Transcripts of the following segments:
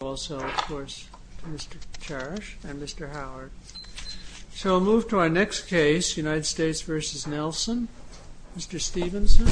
Also, of course, to Mr. Charrish and Mr. Howard. So we'll move to our next case, United States v. Nelson. Mr. Stephenson.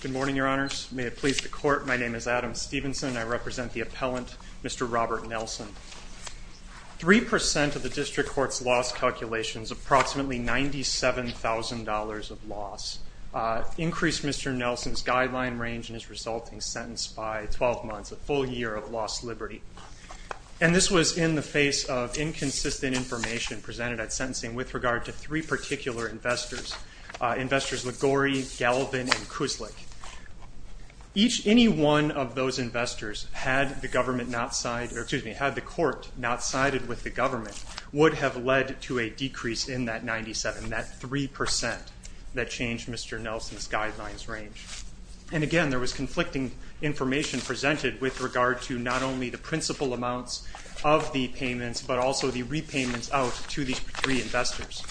Good morning, Your Honors. May it please the Court, my name is Adam Stephenson. I represent the appellant, Mr. Robert Nelson. 3% of the District Court's loss calculations, approximately $97,000 of loss, increased Mr. Nelson's guideline range in his resulting sentence by 12 months, a full year of lost liberty. And this was in the face of inconsistent information presented at sentencing with regard to three particular investors, investors Liguori, Galvin, and Kuzlik. Any one of those investors had the court not sided with the government would have led to a decrease in that 97, that 3% that changed Mr. Nelson's guidelines range. And again, there was conflicting information presented with regard to not only the principal amounts of the payments but also the repayments out to these three investors.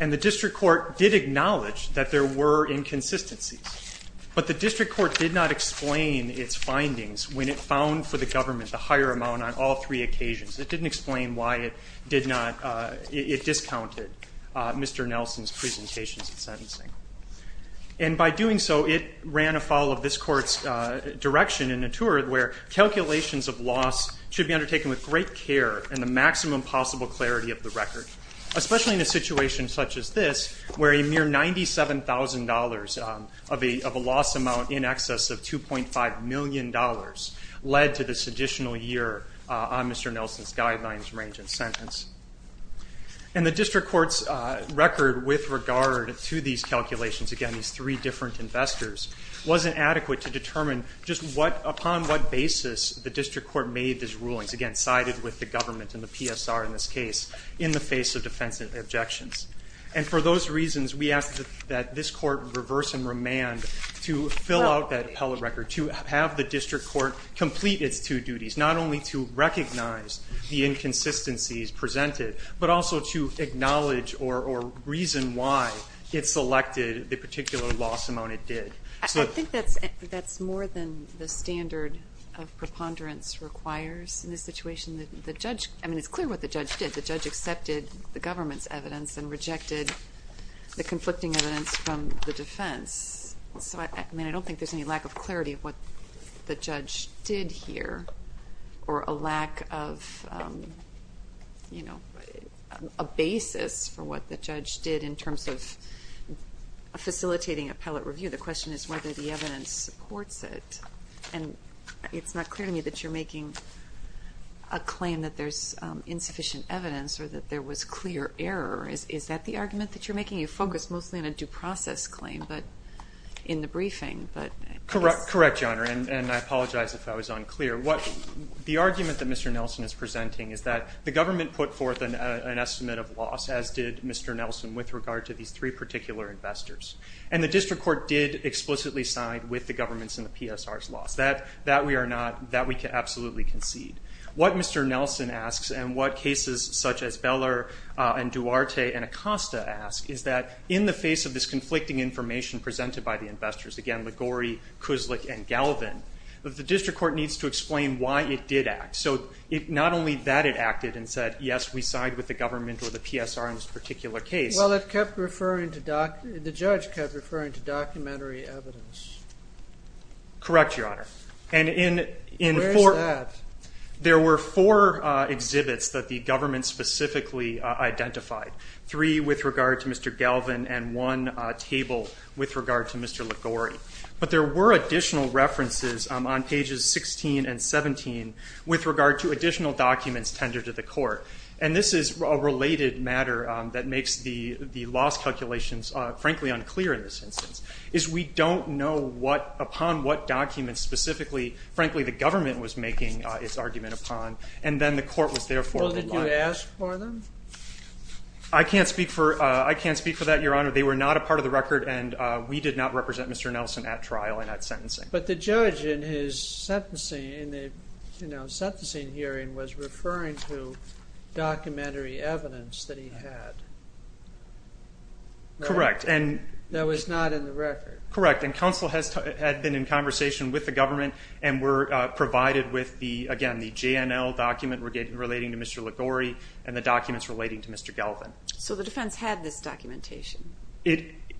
And the District Court did acknowledge that there were inconsistencies. But the District Court did not explain its findings when it found for the government the higher amount on all three occasions. It didn't explain why it discounted Mr. Nelson's presentations at sentencing. And by doing so, it ran afoul of this court's direction in a tour where calculations of loss should be undertaken with great care and the maximum possible clarity of the record, especially in a situation such as this where a mere $97,000 of a loss amount in excess of $2.5 million led to this additional year on Mr. Nelson's guidelines range in sentence. And the District Court's record with regard to these calculations, again, these three different investors, wasn't adequate to determine just upon what basis the District Court made these rulings, which, again, sided with the government and the PSR in this case in the face of defensive objections. And for those reasons, we ask that this court reverse and remand to fill out that appellate record, to have the District Court complete its two duties, not only to recognize the inconsistencies presented but also to acknowledge or reason why it selected the particular loss amount it did. I think that's more than the standard of preponderance requires. In this situation, the judge, I mean, it's clear what the judge did. The judge accepted the government's evidence and rejected the conflicting evidence from the defense. So, I mean, I don't think there's any lack of clarity of what the judge did here or a lack of, you know, a basis for what the judge did in terms of facilitating appellate review. The question is whether the evidence supports it. And it's not clear to me that you're making a claim that there's insufficient evidence or that there was clear error. Is that the argument that you're making? You focused mostly on a due process claim in the briefing. Correct, Your Honor, and I apologize if I was unclear. The argument that Mr. Nelson is presenting is that the government put forth an estimate of loss, as did Mr. Nelson, with regard to these three particular investors. And the district court did explicitly side with the government's and the PSR's loss. That we are not, that we can absolutely concede. What Mr. Nelson asks and what cases such as Beller and Duarte and Acosta ask is that in the face of this conflicting information presented by the investors, again, Liguori, Kuznick, and Galvin, the district court needs to explain why it did act. So, not only that it acted and said, yes, we side with the government or the PSR in this particular case. Well, it kept referring to, the judge kept referring to documentary evidence. Correct, Your Honor. Where is that? There were four exhibits that the government specifically identified. Three with regard to Mr. Galvin and one table with regard to Mr. Liguori. But there were additional references on pages 16 and 17 with regard to additional documents tendered to the court. And this is a related matter that makes the loss calculations, frankly, unclear in this instance. Is we don't know what, upon what documents specifically, frankly, the government was making its argument upon. And then the court was there for a while. Well, did you ask for them? I can't speak for that, Your Honor. They were not a part of the record and we did not represent Mr. Nelson at trial and at sentencing. But the judge in his sentencing, in the sentencing hearing, was referring to documentary evidence that he had. Correct. That was not in the record. Correct. And counsel had been in conversation with the government and were provided with, again, the JNL document relating to Mr. Liguori and the documents relating to Mr. Galvin. So the defense had this documentation?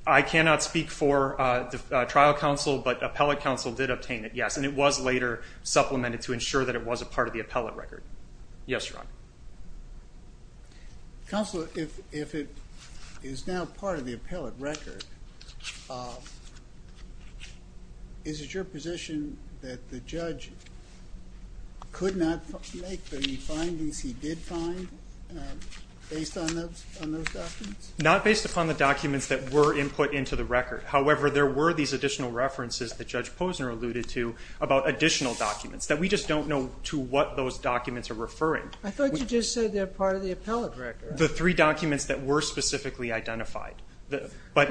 I cannot speak for the trial counsel, but appellate counsel did obtain it, yes. And it was later supplemented to ensure that it was a part of the appellate record. Yes, Your Honor. Counsel, if it is now part of the appellate record, is it your position that the judge could not make the findings he did find based on those documents? However, there were these additional references that Judge Posner alluded to about additional documents that we just don't know to what those documents are referring. I thought you just said they're part of the appellate record. The three documents that were specifically identified. Look, I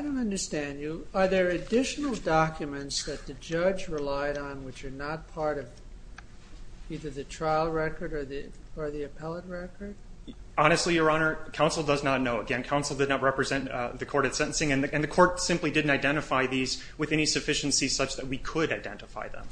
don't understand you. Are there additional documents that the judge relied on which are not part of either the trial record or the appellate record? Honestly, Your Honor, counsel does not know. Again, counsel did not represent the court at sentencing and the court simply didn't identify these with any sufficiency such that we could identify them.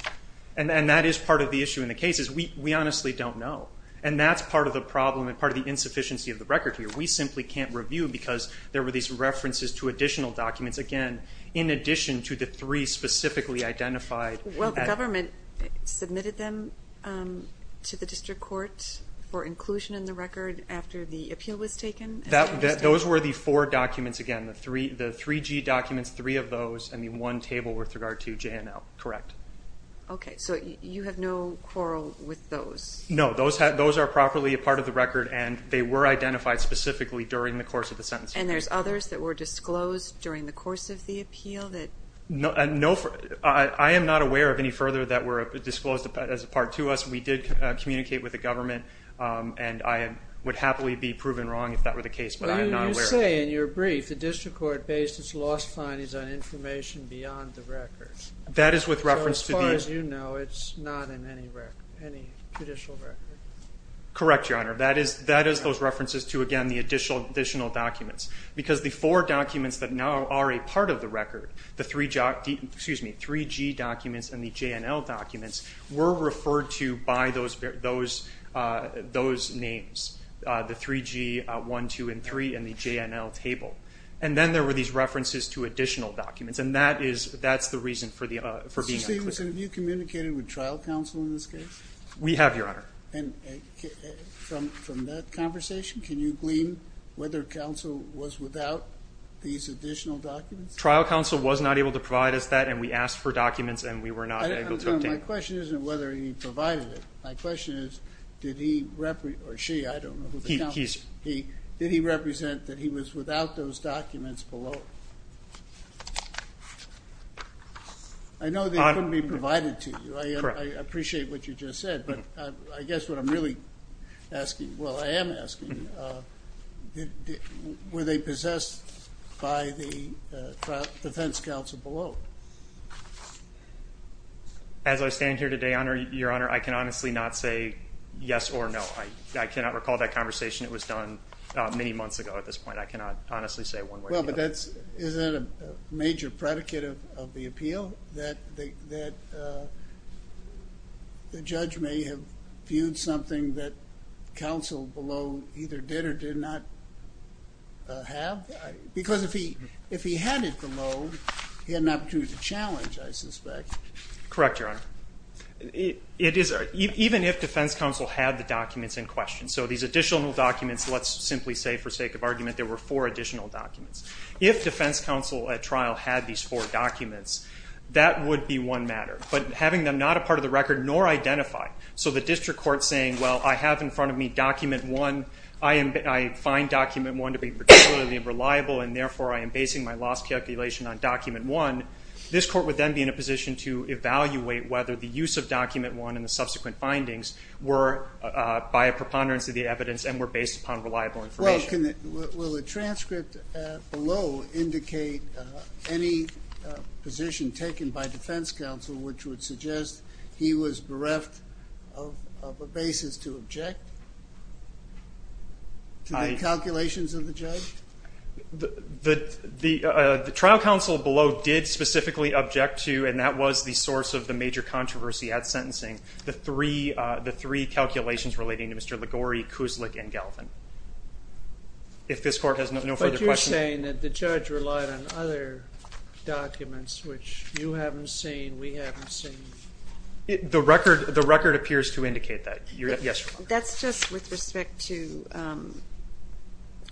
And that is part of the issue in the case is we honestly don't know. And that's part of the problem and part of the insufficiency of the record here. We simply can't review because there were these references to additional documents, again, in addition to the three specifically identified. Well, the government submitted them to the district court for inclusion in the record after the appeal was taken? Those were the four documents, again, the 3G documents, three of those, and the one table with regard to J&L. Correct. Okay. So you have no quarrel with those? No. Those are properly a part of the record, and they were identified specifically during the course of the sentencing. And there's others that were disclosed during the course of the appeal? I am not aware of any further that were disclosed as a part to us. We did communicate with the government, and I would happily be proven wrong if that were the case, but I am not aware. Well, you say in your brief the district court based its loss findings on information beyond the record. That is with reference to the ---- So as far as you know, it's not in any judicial record. Correct, Your Honor. That is those references to, again, the additional documents. Because the four documents that now are a part of the record, the 3G documents and the J&L documents, were referred to by those names, the 3G, 1, 2, and 3, and the J&L table. And then there were these references to additional documents, and that's the reason for being unclear. Mr. Stephenson, have you communicated with trial counsel in this case? We have, Your Honor. And from that conversation, can you glean whether counsel was without these additional documents? Trial counsel was not able to provide us that, and we asked for documents and we were not able to obtain them. Your Honor, my question isn't whether he provided it. My question is did he or she, I don't know who the counsel is, did he represent that he was without those documents below? I know they couldn't be provided to you. I appreciate what you just said. But I guess what I'm really asking, well, I am asking, were they possessed by the defense counsel below? As I stand here today, Your Honor, I can honestly not say yes or no. I cannot recall that conversation. It was done many months ago at this point. I cannot honestly say one way or the other. Well, but isn't that a major predicate of the appeal, that the judge may have viewed something that counsel below either did or did not have? Because if he had it below, he had an opportunity to challenge, I suspect. Correct, Your Honor. Even if defense counsel had the documents in question, so these additional documents, let's simply say for sake of argument, there were four additional documents. If defense counsel at trial had these four documents, that would be one matter. But having them not a part of the record nor identified, so the district court saying, well, I have in front of me document one, I find document one to be particularly unreliable, and therefore I am basing my loss calculation on document one, this court would then be in a position to evaluate whether the use of document one and the subsequent findings were by a preponderance of the evidence and were based upon reliable information. Will the transcript below indicate any position taken by defense counsel which would suggest he was bereft of a basis to object to the calculations of the judge? The trial counsel below did specifically object to, and that was the source of the major controversy at sentencing, the three calculations relating to Mr. Liguori, Kuzlick, and Galvin. If this court has no further questions. But you're saying that the judge relied on other documents, which you haven't seen, we haven't seen? The record appears to indicate that. That's just with respect to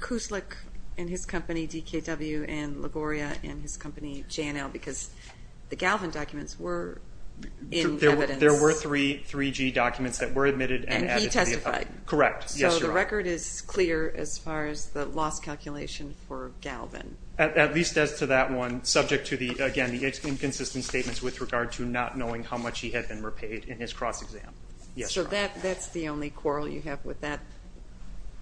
Kuzlick and his company, DKW, and Liguori and his company, J&L, because the Galvin documents were in evidence. There were three 3G documents that were admitted. And he testified. Correct. So the record is clear as far as the loss calculation for Galvin. At least as to that one, subject to, again, the inconsistent statements with regard to not knowing how much he had been repaid in his cross-exam. Yes, Your Honor. So that's the only quarrel you have with that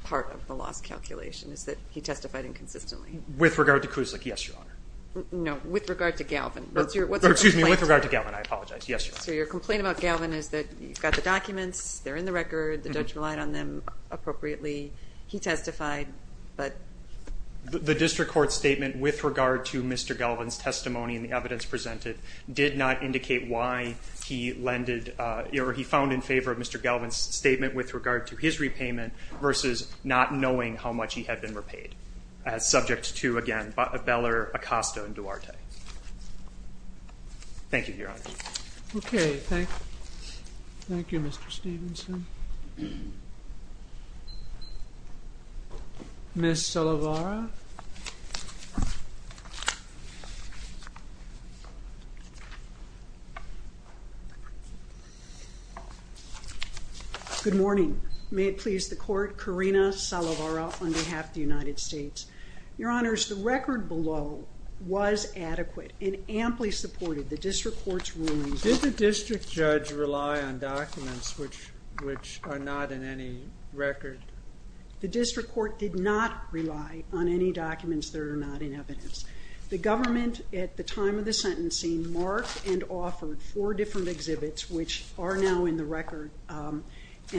part of the loss calculation, is that he testified inconsistently. With regard to Kuzlick, yes, Your Honor. No, with regard to Galvin. Excuse me, with regard to Galvin. I apologize. Yes, Your Honor. So your complaint about Galvin is that you've got the documents, they're in the record, the judge relied on them appropriately, he testified, but... the district court statement with regard to Mr. Galvin's testimony and the evidence presented did not indicate why he found in favor of Mr. Galvin's statement with regard to his repayment versus not knowing how much he had been repaid, subject to, again, Beller, Acosta, and Duarte. Thank you, Your Honor. Okay. Thank you, Mr. Stevenson. Ms. Salovara? Good morning. May it please the Court, Karina Salovara on behalf of the United States. Your Honors, the record below was adequate and amply supported the district court's rulings. Did the district judge rely on documents which are not in any record? The district court did not rely on any documents that are not in evidence. The government, at the time of the sentencing, marked and offered four different exhibits which are now in the record and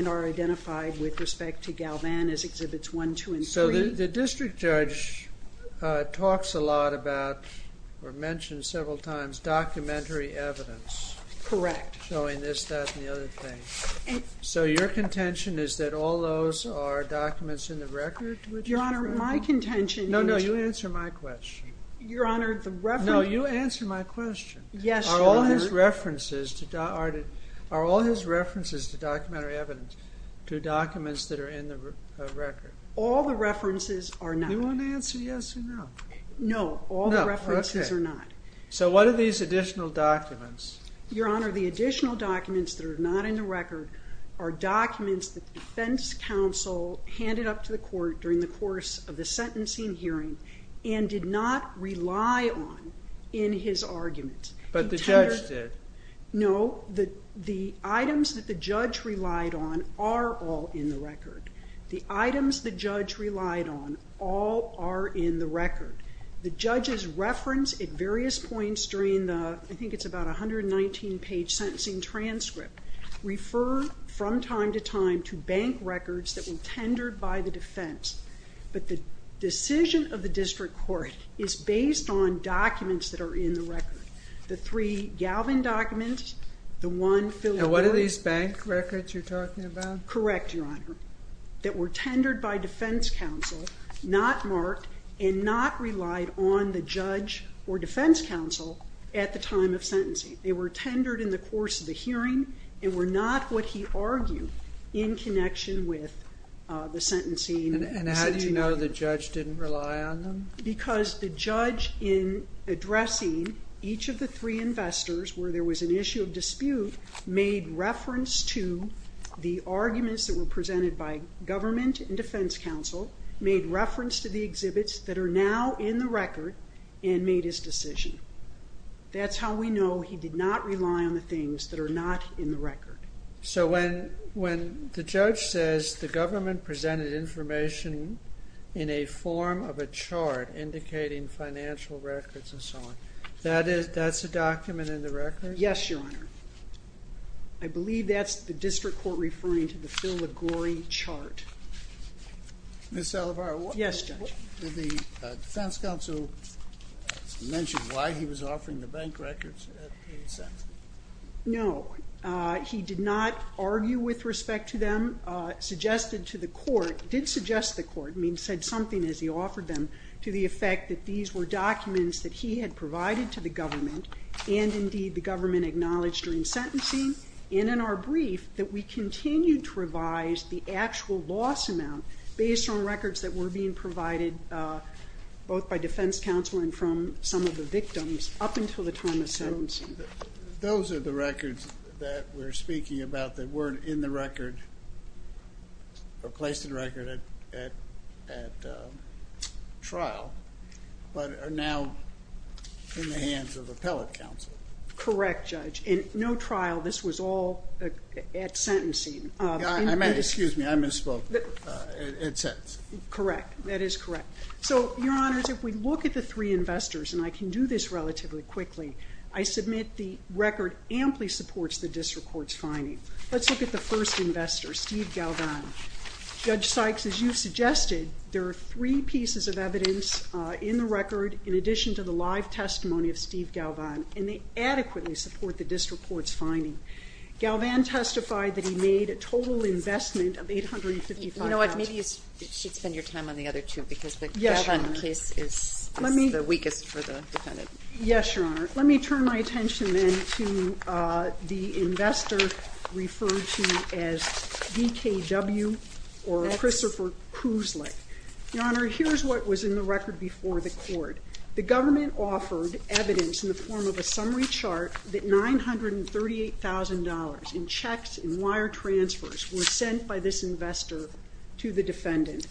are identified with respect to Galvin as Exhibits 1, 2, and 3. So the district judge talks a lot about or mentioned several times documentary evidence. Correct. Showing this, that, and the other thing. So your contention is that all those are documents in the record? Your Honor, my contention is... No, no, you answer my question. Your Honor, the reference... No, you answer my question. Yes, Your Honor. Are all his references to documentary evidence to documents that are in the record? All the references are not. You want to answer yes or no? No, all the references are not. So what are these additional documents? Your Honor, the additional documents that are not in the record are documents that the defense counsel handed up to the court during the course of the sentencing hearing and did not rely on in his argument. But the judge did. No, the items that the judge relied on are all in the record. The items the judge relied on all are in the record. The judge's reference at various points during the, I think it's about a 119-page sentencing transcript, refer from time to time to bank records that were tendered by the defense. But the decision of the district court is based on documents that are in the record. The three Galvin documents, the one... And what are these bank records you're talking about? Correct, Your Honor, that were tendered by defense counsel, not marked, and not relied on the judge or defense counsel at the time of sentencing. They were tendered in the course of the hearing and were not what he argued in connection with the sentencing hearing. And how do you know the judge didn't rely on them? Because the judge, in addressing each of the three investors where there was an issue of dispute, made reference to the arguments that were presented by government and defense counsel, made reference to the exhibits that are now in the record, and made his decision. That's how we know he did not rely on the things that are not in the record. So when the judge says the government presented information in a form of a chart indicating financial records and so on, that's a document in the record? Yes, Your Honor. I believe that's the district court referring to the Phil LaGore chart. Ms. Salovar? Yes, Judge. Did the defense counsel mention why he was offering the bank records at the sentencing? No. He did not argue with respect to them. Suggested to the court, did suggest to the court, said something as he offered them, to the effect that these were documents that he had provided to the government and, indeed, the government acknowledged during sentencing and in our brief that we continued to revise the actual loss amount based on records that were being provided both by defense counsel and from some of the victims up until the time of sentencing. Those are the records that we're speaking about that weren't in the record or placed in the record at trial but are now in the hands of appellate counsel. Correct, Judge, and no trial. This was all at sentencing. Excuse me, I misspoke. At sentence. Correct. That is correct. So, Your Honors, if we look at the three investors, and I can do this relatively quickly, I submit the record amply supports the district court's finding. Let's look at the first investor, Steve Galvan. Judge Sykes, as you suggested, there are three pieces of evidence in the record in addition to the live testimony of Steve Galvan, and they adequately support the district court's finding. Galvan testified that he made a total investment of $855,000. You know what? Maybe you should spend your time on the other two because the Galvan case is the weakest for the defendant. Yes, Your Honor. Let me turn my attention then to the investor referred to as DKW, or Christopher Kuzlick. Your Honor, here's what was in the record before the court. The government offered evidence in the form of a summary chart that $938,000 in checks and wire transfers were sent by this investor to the defendant.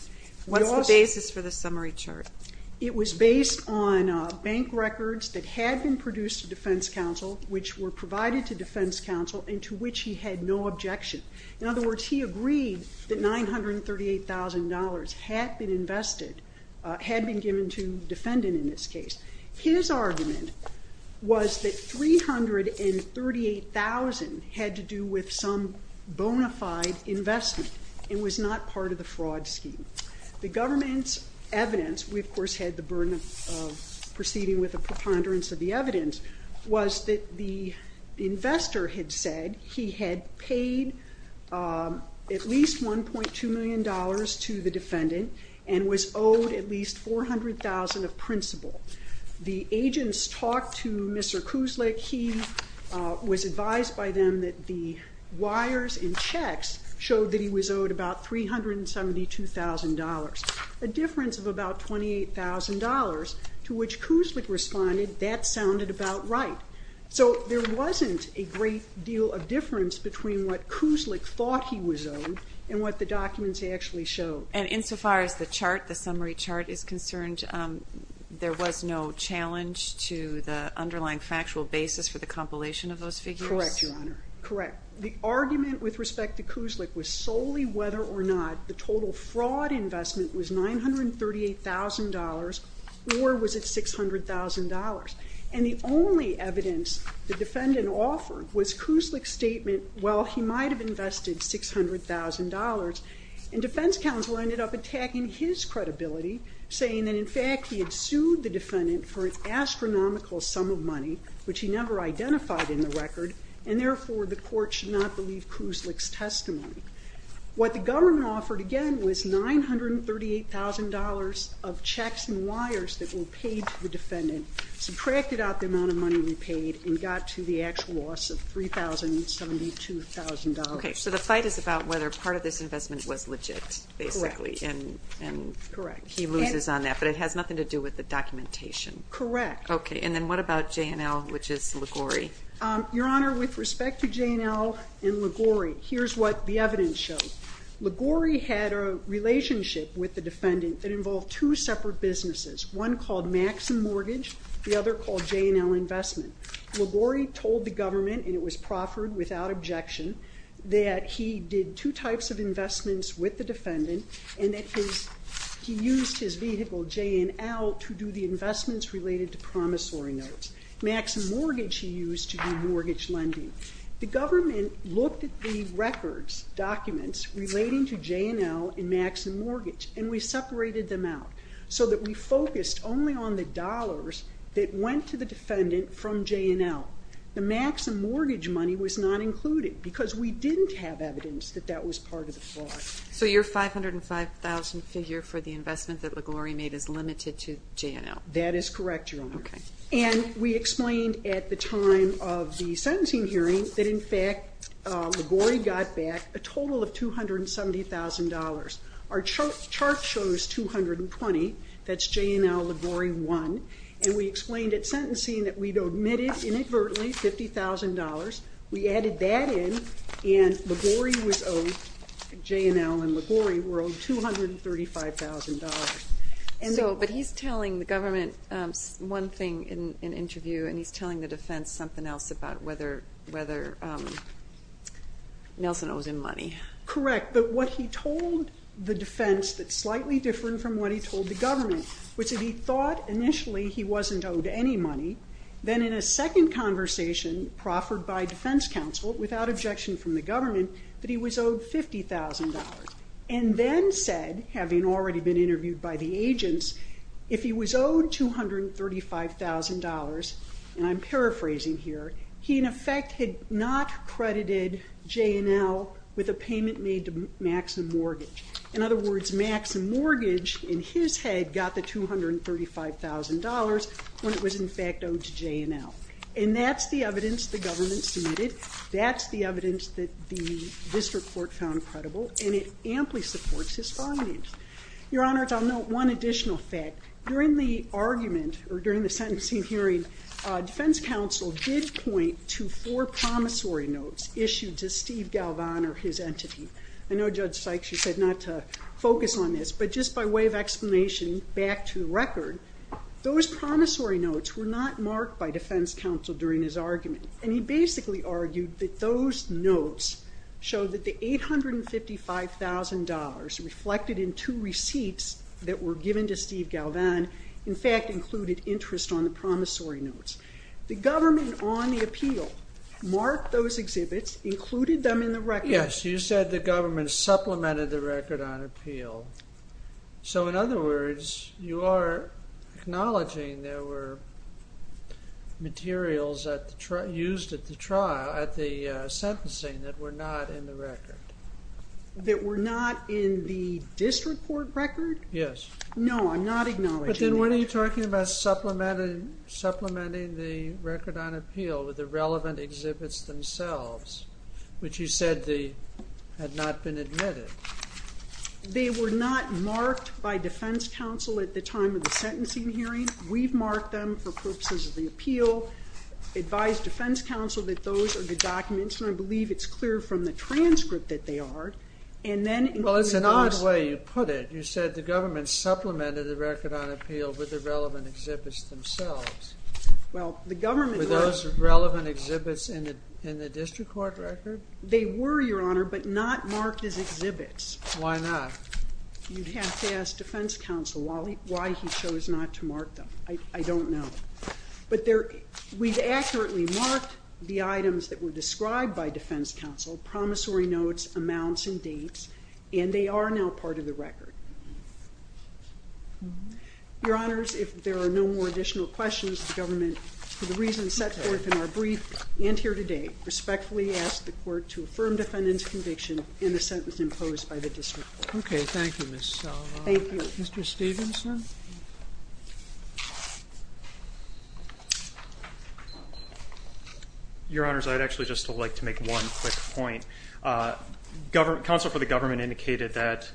What's the basis for the summary chart? It was based on bank records that had been produced to defense counsel, which were provided to defense counsel, and to which he had no objection. In other words, he agreed that $938,000 had been invested, had been given to the defendant in this case. His argument was that $338,000 had to do with some bona fide investment and was not part of the fraud scheme. The government's evidence, we of course had the burden of proceeding with a preponderance of the evidence, was that the investor had said he had paid at least $1.2 million to the defendant and was owed at least $400,000 of principal. The agents talked to Mr. Kuzlick. He was advised by them that the wires and checks showed that he was owed about $372,000, a difference of about $28,000, to which Kuzlick responded that sounded about right. So there wasn't a great deal of difference between what Kuzlick thought he was owed and what the documents actually showed. And insofar as the summary chart is concerned, there was no challenge to the underlying factual basis for the compilation of those figures? Correct, Your Honor. Correct. The argument with respect to Kuzlick was solely whether or not the total fraud investment was $938,000 or was it $600,000. And the only evidence the defendant offered was Kuzlick's statement, well, he might have invested $600,000. And defense counsel ended up attacking his credibility, saying that in fact he had sued the defendant for an astronomical sum of money, which he never identified in the record, and therefore the court should not believe Kuzlick's testimony. What the government offered, again, was $938,000 of checks and wires that were paid to the defendant, subtracted out the amount of money we paid, and got to the actual loss of $3,072,000. Okay, so the fight is about whether part of this investment was legit, basically, and he loses on that, but it has nothing to do with the documentation? Correct. Okay, and then what about J&L, which is Liguori? Your Honor, with respect to J&L and Liguori, here's what the evidence shows. Liguori had a relationship with the defendant that involved two separate businesses, one called Max & Mortgage, the other called J&L Investment. Liguori told the government, and it was proffered without objection, that he did two types of investments with the defendant, and that he used his vehicle, J&L, to do the investments related to promissory notes. Max & Mortgage he used to do mortgage lending. The government looked at the records, documents, relating to J&L and Max & Mortgage, and we separated them out so that we focused only on the dollars that went to the defendant from J&L. The Max & Mortgage money was not included because we didn't have evidence that that was part of the fraud. So your $505,000 figure for the investment that Liguori made is limited to J&L? That is correct, Your Honor. And we explained at the time of the sentencing hearing that, in fact, Liguori got back a total of $270,000. Our chart shows $220,000. That's J&L Liguori won. And we explained at sentencing that we'd omitted, inadvertently, $50,000. We added that in, and Liguori was owed, J&L and Liguori were owed $235,000. But he's telling the government one thing in an interview, and he's telling the defense something else about whether Nelson owes him money. Correct, but what he told the defense that's slightly different from what he told the government, which is he thought initially he wasn't owed any money, then in a second conversation proffered by defense counsel, without objection from the government, that he was owed $50,000, and then said, having already been interviewed by the agents, if he was owed $235,000, and I'm paraphrasing here, he, in effect, had not credited J&L with a payment made to Maxim Mortgage. In other words, Maxim Mortgage, in his head, got the $235,000 when it was, in fact, owed to J&L. And that's the evidence the government submitted. That's the evidence that the district court found credible. And it amply supports his findings. Your Honor, I'll note one additional fact. During the argument, or during the sentencing hearing, defense counsel did point to four promissory notes issued to Steve Galvan or his entity. I know Judge Sykes, you said not to focus on this, but just by way of explanation, back to the record, those promissory notes were not marked by defense counsel during his argument. And he basically argued that those notes showed that the $855,000 reflected in two receipts that were given to Steve Galvan, in fact, included interest on the promissory notes. The government, on the appeal, marked those exhibits, included them in the record. Yes, you said the government supplemented the record on appeal. So, in other words, you are acknowledging there were materials used at the trial, during the sentencing, that were not in the record. That were not in the district court record? Yes. No, I'm not acknowledging that. But then what are you talking about supplementing the record on appeal with the relevant exhibits themselves, which you said had not been admitted? They were not marked by defense counsel at the time of the sentencing hearing. We've marked them for purposes of the appeal, advised defense counsel that those are the documents, and I believe it's clear from the transcript that they are. Well, it's an odd way you put it. You said the government supplemented the record on appeal with the relevant exhibits themselves. Were those relevant exhibits in the district court record? They were, Your Honor, but not marked as exhibits. Why not? You'd have to ask defense counsel why he chose not to mark them. I don't know. But we've accurately marked the items that were described by defense counsel, promissory notes, amounts, and dates, and they are now part of the record. Your Honors, if there are no more additional questions, the government, for the reasons set forth in our brief and here today, respectfully ask the court to affirm defendant's conviction in the sentence imposed by the district court. Okay, thank you, Ms. Sullivan. Thank you. Mr. Stevenson? Your Honors, I'd actually just like to make one quick point. Counsel for the government indicated that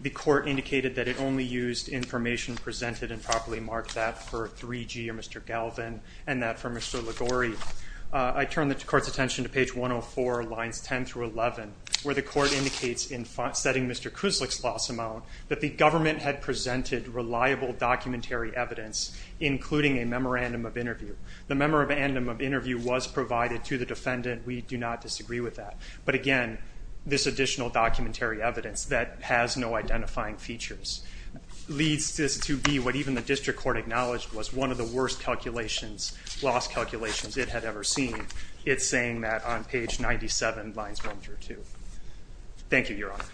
the court indicated that it only used information presented and properly marked that for 3G or Mr. Galvin and that for Mr. Ligori. I turn the court's attention to page 104, lines 10 through 11, where the court indicates in setting Mr. Kuzlick's loss amount that the government had presented reliable evidence including a memorandum of interview. The memorandum of interview was provided to the defendant. We do not disagree with that. But again, this additional documentary evidence that has no identifying features leads to be what even the district court acknowledged was one of the worst loss calculations it had ever seen. It's saying that on page 97, lines 1 through 2. Thank you, Your Honor.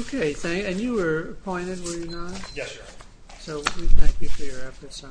Okay, and you were appointed, were you not? Yes, Your Honor. So we thank you for your efforts.